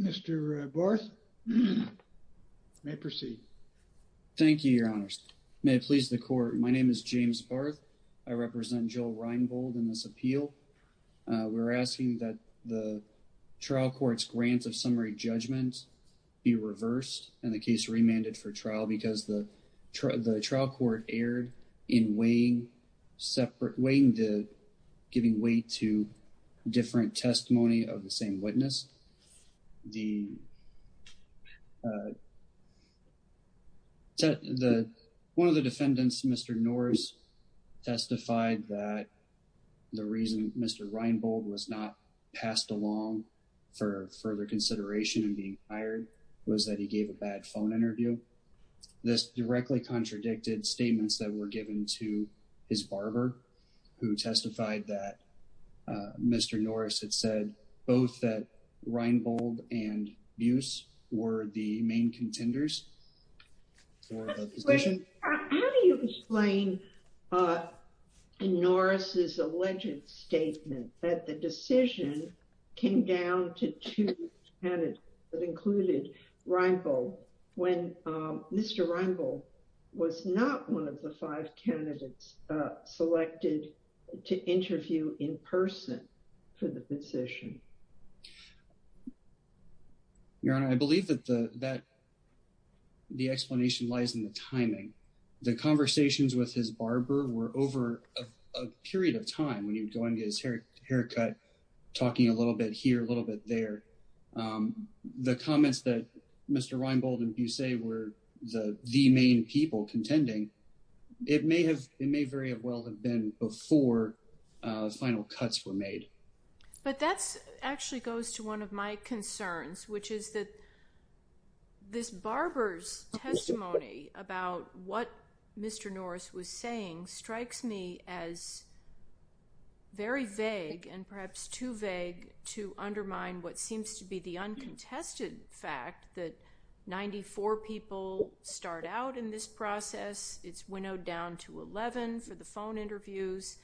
Mr. Barth, you may proceed. Thank you, Your Honors. May it please the court, my name is James Barth. I represent Joe Reinbold in this appeal. We're asking that the trial be remanded for trial because the trial court erred in weighing the giving way to different testimony of the same witness. One of the defendants, Mr. Norris, testified that the reason Mr. Reinbold was not passed along for further consideration in being hired was that he gave a bad phone interview. This directly contradicted statements that were given to his barber who testified that Mr. Norris had said both that Reinbold and Bruce were the main contenders for the position. How do you explain Norris's alleged statement that the decision came down to two candidates that included Reinbold when Mr. Reinbold was not one of the five candidates selected to interview in person for the position? Your Honor, I believe that the explanation lies in the timing. The conversations with his barber were over a period of time when he was going to his haircut, talking a little bit here, a little bit there. The comments that Mr. Reinbold and Bruce say were the main people contending, it may very well have been before final cuts were made. But that actually goes to one of my concerns, which is that this barber's testimony about what Mr. Norris was saying strikes me as very vague and perhaps too vague to undermine what seems to be the uncontested fact that 94 people start out in this process, it's winnowed down to 11 for the phone interviews,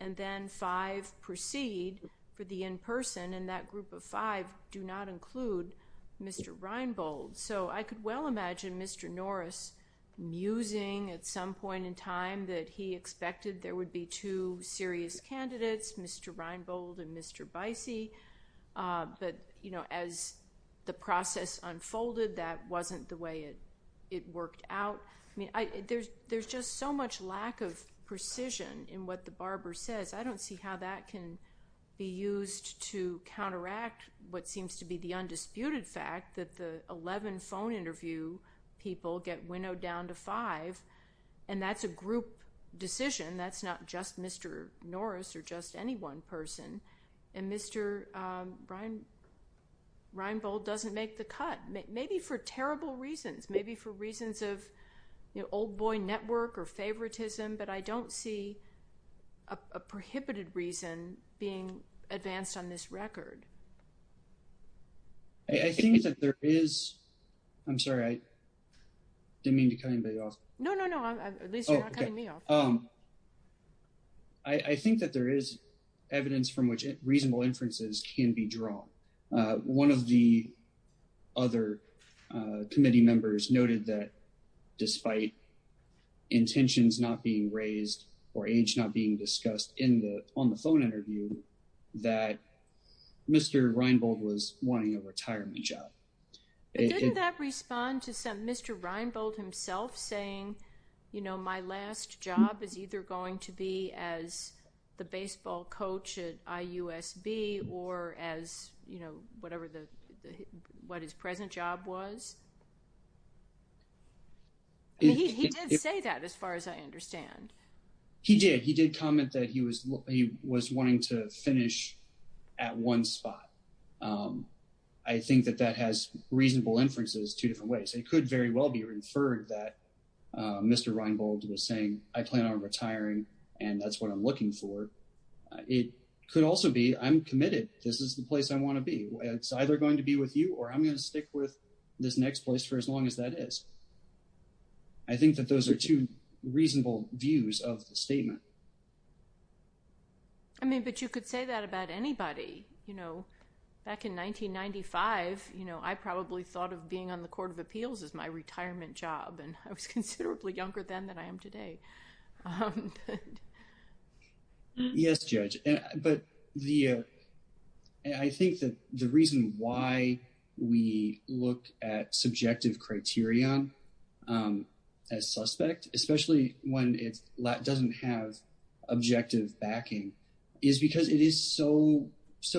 and then five proceed for the in-person, and that group of five do not include Mr. Reinbold. So I could well imagine Mr. Norris musing at some point in time that he expected there would be two serious candidates, Mr. Reinbold and Mr. Bicey. But as the process unfolded, that wasn't the way it worked out. There's just so much lack of precision in what the barber says. I don't see how that can be used to counteract what seems to be the undisputed fact that the 11 phone interview people get winnowed down to five, and that's a group decision. That's not just Mr. Norris or just any one person. And Mr. Reinbold doesn't make the cut, maybe for terrible reasons, maybe for reasons of old boy network or favoritism, but I don't see a prohibited reason being advanced on this record. I think that there is, I'm sorry, I didn't mean to cut anybody off. No, no, no, at least you're not cutting me off. I think that there is evidence from which reasonable inferences can be drawn. One of the other committee members noted that despite intentions not being raised or age not being discussed on the phone interview, that Mr. Reinbold was wanting a retirement job. But didn't that respond to Mr. Reinbold himself saying, you know, my last job is either going to be as the baseball coach at IUSB or as, you know, whatever his present job was? He did say that as far as I understand. He did. He did comment that he was wanting to finish at one spot. I think that that has reasonable inferences two different ways. It could very well be saying I plan on retiring and that's what I'm looking for. It could also be I'm committed. This is the place I want to be. It's either going to be with you or I'm going to stick with this next place for as long as that is. I think that those are two reasonable views of the statement. I mean, but you could say that about anybody, you know. Back in 1995, you know, I probably thought of being on the Court of Appeals as my retirement job and I was considerably younger then than I am today. Yes, Judge. But I think that the reason why we look at subjective criterion as suspect, especially when it doesn't have objective backing, is because it is so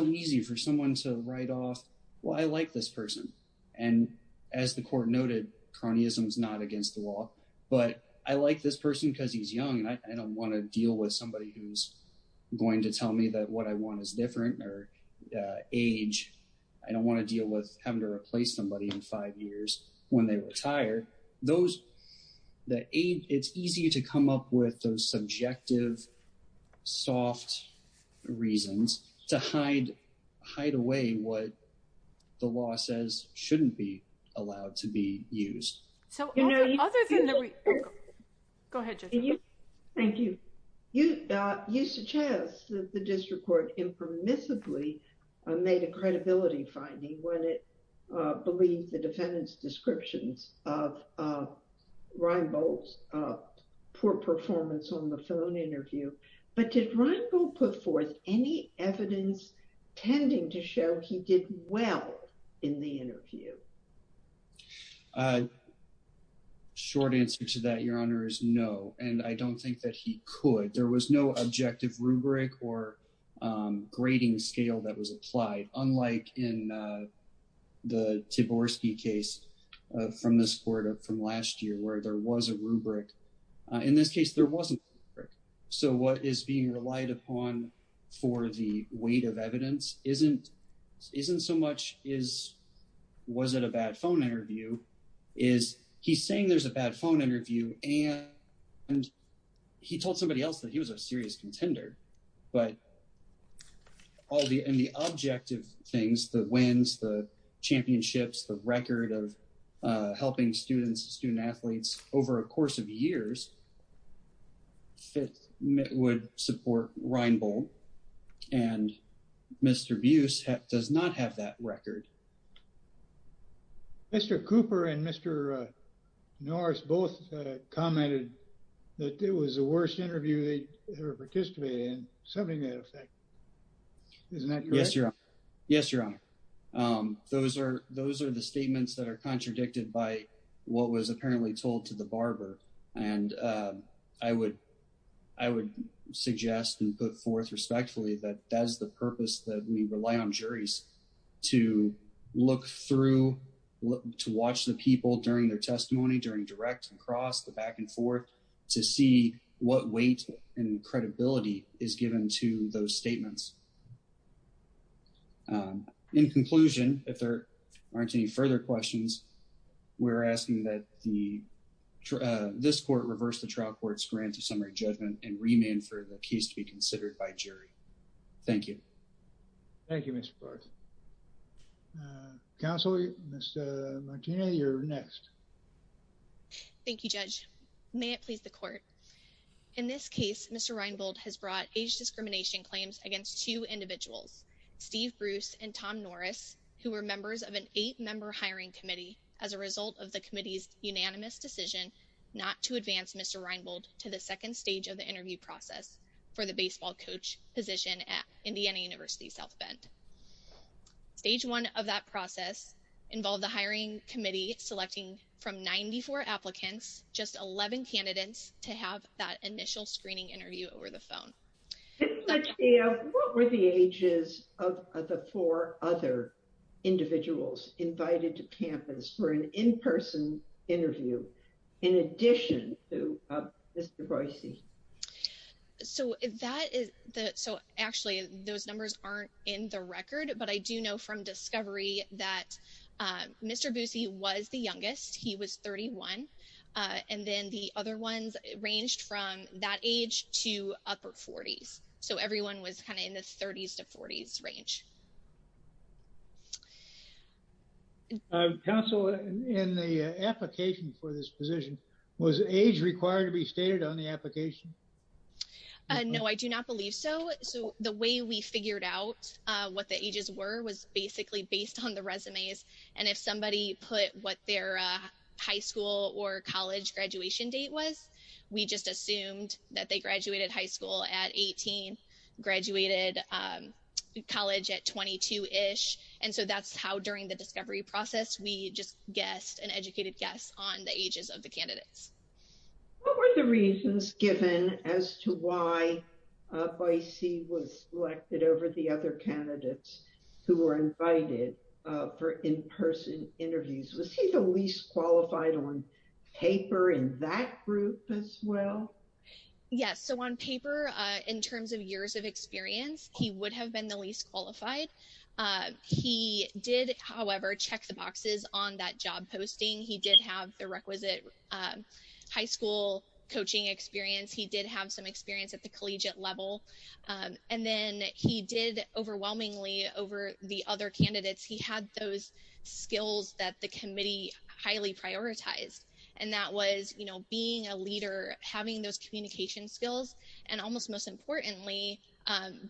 easy for someone to write off, well, I like this person. And as the Court noted, cronyism is not against the law. But I like this person because he's young and I don't want to deal with somebody who's going to tell me that what I want is different or age. I don't want to deal with having to replace somebody in five years when they retire. Those, it's easy to come up with those subjective, soft reasons to hide away what the law says shouldn't be allowed to be used. Go ahead, Jessica. Thank you. You suggest that the district court impermissibly made a credibility finding when it described Reimbold's poor performance on the phone interview. But did Reimbold put forth any evidence tending to show he did well in the interview? Short answer to that, Your Honor, is no. And I don't think that he could. There was no objective rubric or grading scale that was applied. Unlike in the Tiborsky case from this court from last year where there was a rubric. In this case, there wasn't a rubric. So what is being relied upon for the weight of evidence isn't so much, was it a bad phone interview? Is he's saying there's a bad phone interview and he told somebody else that he was a serious contender. But all the objective things, the wins, the championships, the record of helping students, student athletes over a course of years would support Reimbold. And Mr. Buse does not have that record. Mr. Cooper and Mr. Norris both commented that it was the worst interview they ever participated in. Something to that effect. Isn't that correct? Yes, Your Honor. Yes, Your Honor. Those are the statements that are contradicted by what was apparently told to the barber. And I would suggest and put forth respectfully that that's the purpose that we rely on juries to look through, to watch the people during their testimony, during direct and cross, the back and forth, to see what weight and credibility is given to those statements. In conclusion, if there aren't any further questions, we're asking that this court reverse the trial court's grant to summary judgment and remand for the case to be considered by jury. Thank you. Thank you, Mr. Barth. Counsel, Ms. Martina, you're next. Thank you, Judge. May it please the court. In this case, Mr. Reimbold has brought age discrimination claims against two individuals, Steve Bruce and Tom Norris, who were members of an eight-member hiring committee as a result of the committee's unanimous decision not to advance Mr. Reimbold to the second stage of the interview process for the baseball coach position at Indiana University South Bend. Stage one of that process involved the hiring committee selecting from 94 applicants, just 11 candidates, to have that initial screening interview over the phone. What were the ages of the four other individuals invited to campus for an in-person interview in addition to Mr. Royce? So, actually, those numbers aren't in the record. But I do know from discovery that Mr. Boosie was the youngest. He was 31. And then the other ones ranged from that age to upper 40s. So everyone was kind of in the 30s to 40s range. Counsel, in the application for this position, was age required to be stated on the application? No, I do not believe so. So the way we figured out what the ages were was basically based on the resumes. And if somebody put what their high school or college graduation date was, we just assumed that they graduated high school at 18, graduated college at 22-ish. And so that's how, during the discovery process, we just guessed and educated guests on the ages of the candidates. What were the reasons given as to why Boisie was selected over the other candidates who were invited for in-person interviews? Was he the least qualified on paper in that group as well? Yes. So on paper, in terms of years of experience, he would have been the least qualified. He did, however, check the boxes on that job posting. He did have the requisite high school coaching experience. He did have some experience at the collegiate level. And then he did, overwhelmingly, over the other candidates, he had those skills that the committee highly prioritized. And that was being a leader, having those communication skills, and almost most importantly,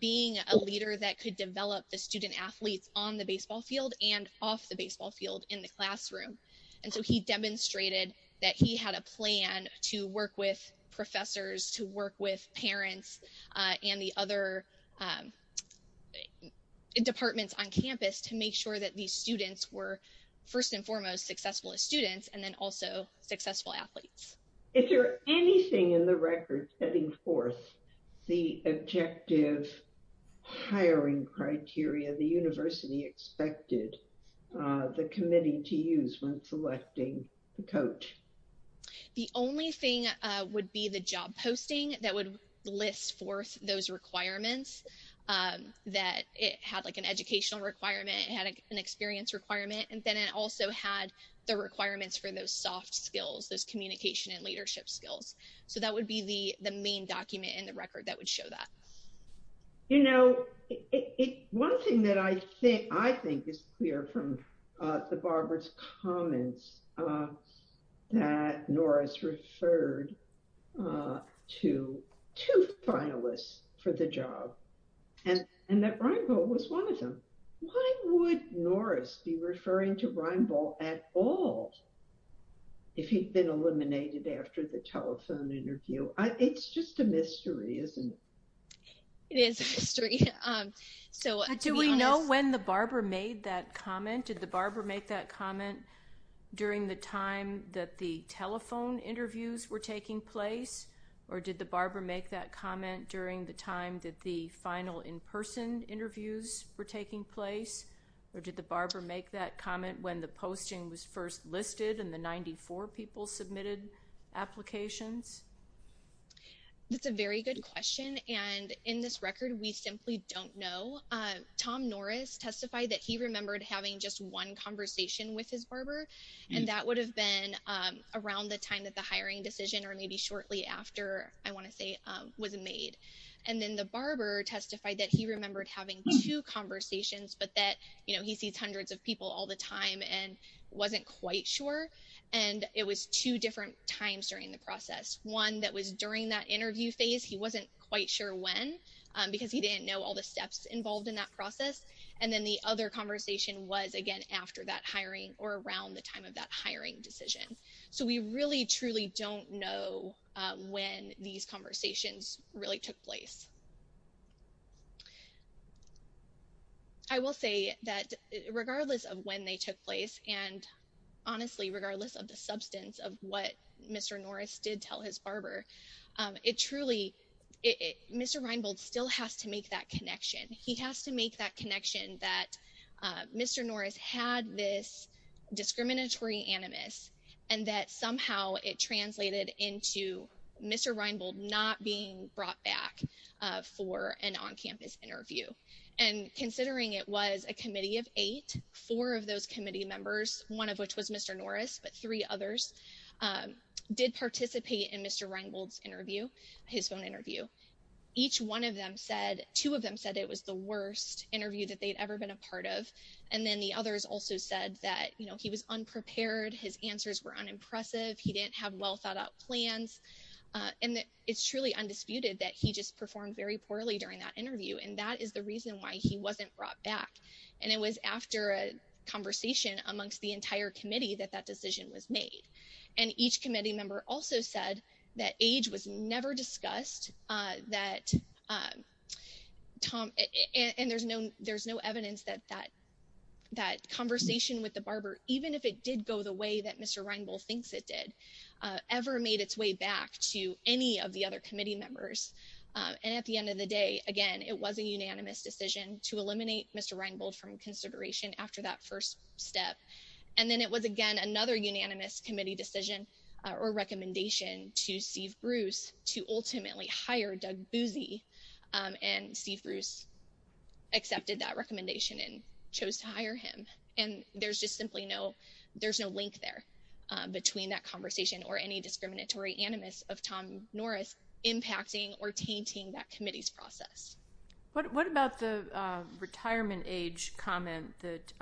being a leader that could develop the student-athletes on the baseball field and off the baseball field in the classroom. And so he demonstrated that he had a plan to work with professors, to work with parents and the other departments on campus to make sure that these students were, first and foremost, successful as students, and then also successful athletes. Is there anything in the record setting forth the objective hiring criteria the university expected the committee to use when selecting the coach? The only thing would be the job posting that would list forth those requirements that it had like an educational requirement, it had an experience requirement, and then it also had the requirements for those soft skills, those communication and leadership skills. So that would be the main document in the record that would show that. You know, one thing that I think is clear from the Barbara's comments that Norris referred to two finalists for the job, and that Reinbold was one of them. Why would Norris be referring to Reinbold at all? If he'd been eliminated after the telephone interview. It's just a mystery, isn't it? It is a mystery. Do we know when the Barbara made that comment? Did the Barbara make that comment during the time that the telephone interviews were taking place? Or did the Barbara make that comment during the time that the final in-person interviews were taking place? Or did the Barbara make that comment when the posting was first listed and the 94 people submitted applications? That's a very good question. And in this record, we simply don't know. Tom Norris testified that he remembered having just one conversation with his Barbara, and that would have been around the time that the hiring decision or maybe shortly after, I want to say, was made. And then the Barbara testified that he remembered having two conversations, but that he sees hundreds of people all the time and wasn't quite sure. And it was two different times during the process. One that was during that interview phase. He wasn't quite sure when, because he didn't know all the steps involved in that process. And then the other conversation was, again, after that hiring or around the time of that hiring decision. So we really, truly don't know when these conversations really took place. I will say that regardless of when they took place, and honestly, regardless of the substance of what Mr. Norris did tell his Barbara, it truly, Mr. Reinbold still has to make that connection. He has to make that connection that Mr. Norris had this discriminatory animus, and that somehow it translated into Mr. Reinbold not being brought back for an on-campus interview. And considering it was a committee of eight, four of those committee members, one of which was Mr. Norris, but three others, did participate in Mr. Reinbold's interview, his phone interview. Each one of them said, two of them said it was the worst interview that they'd ever been a part of. And then the others also said that, you know, he was unprepared. His answers were unimpressive. He didn't have well thought out plans. And that is the reason why he wasn't brought back. And it was after a conversation amongst the entire committee that that decision was made. And each committee member also said that age was never discussed, that Tom, and there's no evidence that that conversation with the Barbara, even if it did go the way that Mr. Reinbold thinks it did, ever made its way back to any of the other committee members. And at the end of the day, again, it was a unanimous decision to eliminate Mr. Reinbold from consideration after that first step. And then it was, again, another unanimous committee decision or recommendation to Steve Bruce to ultimately hire Doug Busey. And Steve Bruce accepted that recommendation and chose to hire him. And there's just simply no, there's no link there between that conversation or any discriminatory animus of Tom Norris impacting or tainting that committee's process. What about the retirement age comment that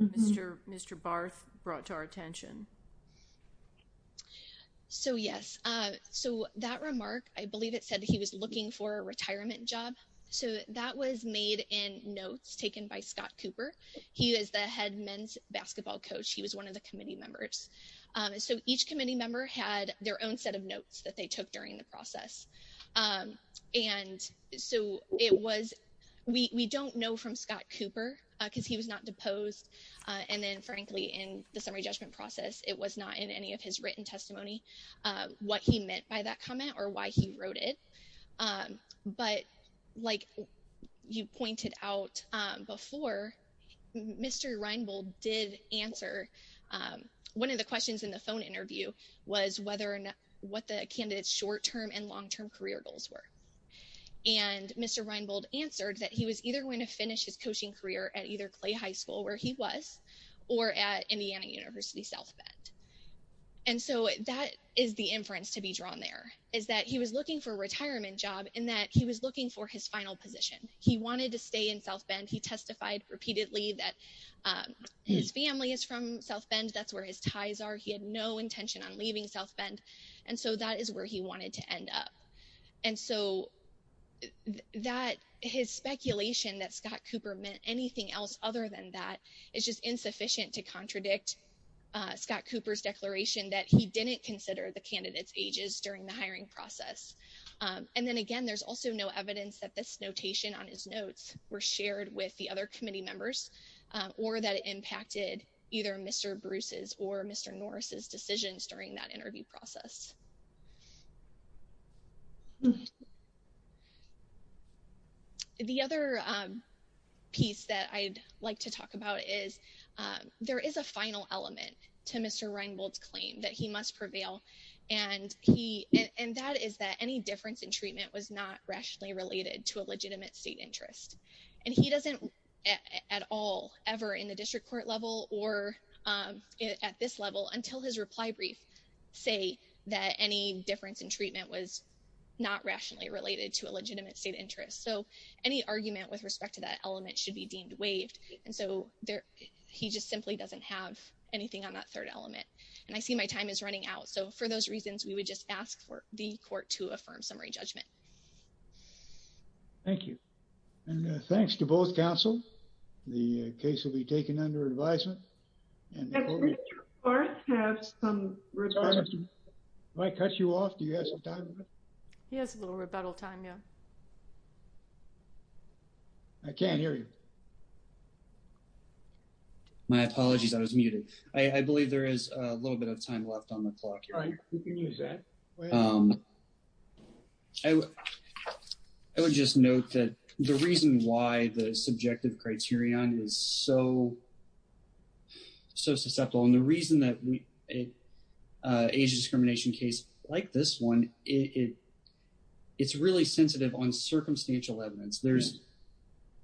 Mr. Barth brought to our attention? So, yes. So that remark, I believe it said he was looking for a retirement job. So that was made in notes taken by Scott Cooper. He is the head men's basketball coach. He was one of the committee members. So each committee member had their own set of notes that they took during the process. And so it was, we don't know from Scott Cooper because he was not deposed. And then frankly, in the summary judgment process, it was not in any of his written testimony, what he meant by that comment or why he wrote it. But like you pointed out before, Mr. Reinbold did answer one of the questions in the phone interview was whether or not, what the candidates short-term and long-term career goals were. And Mr. Reinbold answered that he was either going to finish his coaching career at either Clay High School where he was, or at Indiana University South Bend. And so that is the inference to be drawn there, is that he was looking for a retirement job and that he was looking for his final position. He wanted to stay in South Bend. He testified repeatedly that his family is from South Bend. That's where his ties are. He had no intention on leaving South Bend. And so that is where he wanted to end up. And so his speculation that Scott Cooper meant anything else other than that is just insufficient to contradict Scott Cooper's declaration that he didn't consider the candidates ages during the hiring process. Were shared with the other committee members or that impacted either Mr. Bruce's or Mr. Norris's decisions during that interview process. The other piece that I'd like to talk about is there is a final element to Mr. Reinbold's claim that he must prevail. And he, and that is that any difference in treatment was not rationally related to a legitimate state interest. And he doesn't at all ever in the district court level or at this level until his reply brief say that any difference in treatment was not rationally related to a legitimate state interest. So any argument with respect to that element should be deemed waived. And so he just simply doesn't have anything on that third element. And I see my time is running out. So for those reasons, we would just ask for the court to affirm summary judgment. Thank you. And thanks to both counsel. The case will be taken under advisement. And Mr. Norris has some rebuttal. If I cut you off, do you have some time? He has a little rebuttal time, yeah. I can't hear you. My apologies, I was muted. I believe there is a little bit of time left on the clock. All right, you can use that. I would just note that the reason why the subjective criterion is so susceptible and the reason that age discrimination case like this one, it's really sensitive on circumstantial evidence. There's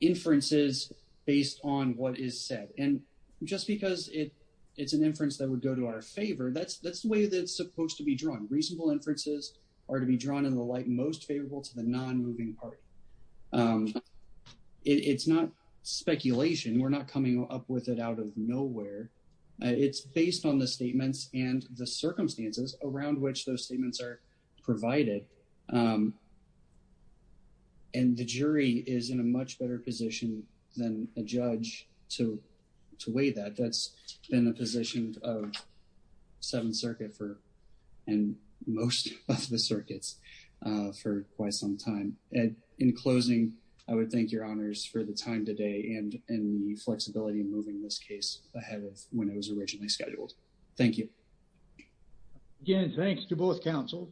inferences based on what is said. And just because it's an inference that would go to our favor, that's the way that it's supposed to be drawn. Reasonable inferences are to be drawn in the light most favorable to the non-moving party. It's not speculation. We're not coming up with it out of nowhere. It's based on the statements and the circumstances around which those statements are provided. And the jury is in a much better position than a judge to weigh that. That's been the position of Seventh Circuit for, and most of the circuits for quite some time. And in closing, I would thank your honors for the time today and the flexibility in moving this case ahead of when it was originally scheduled. Thank you. Again, thanks to both counsels.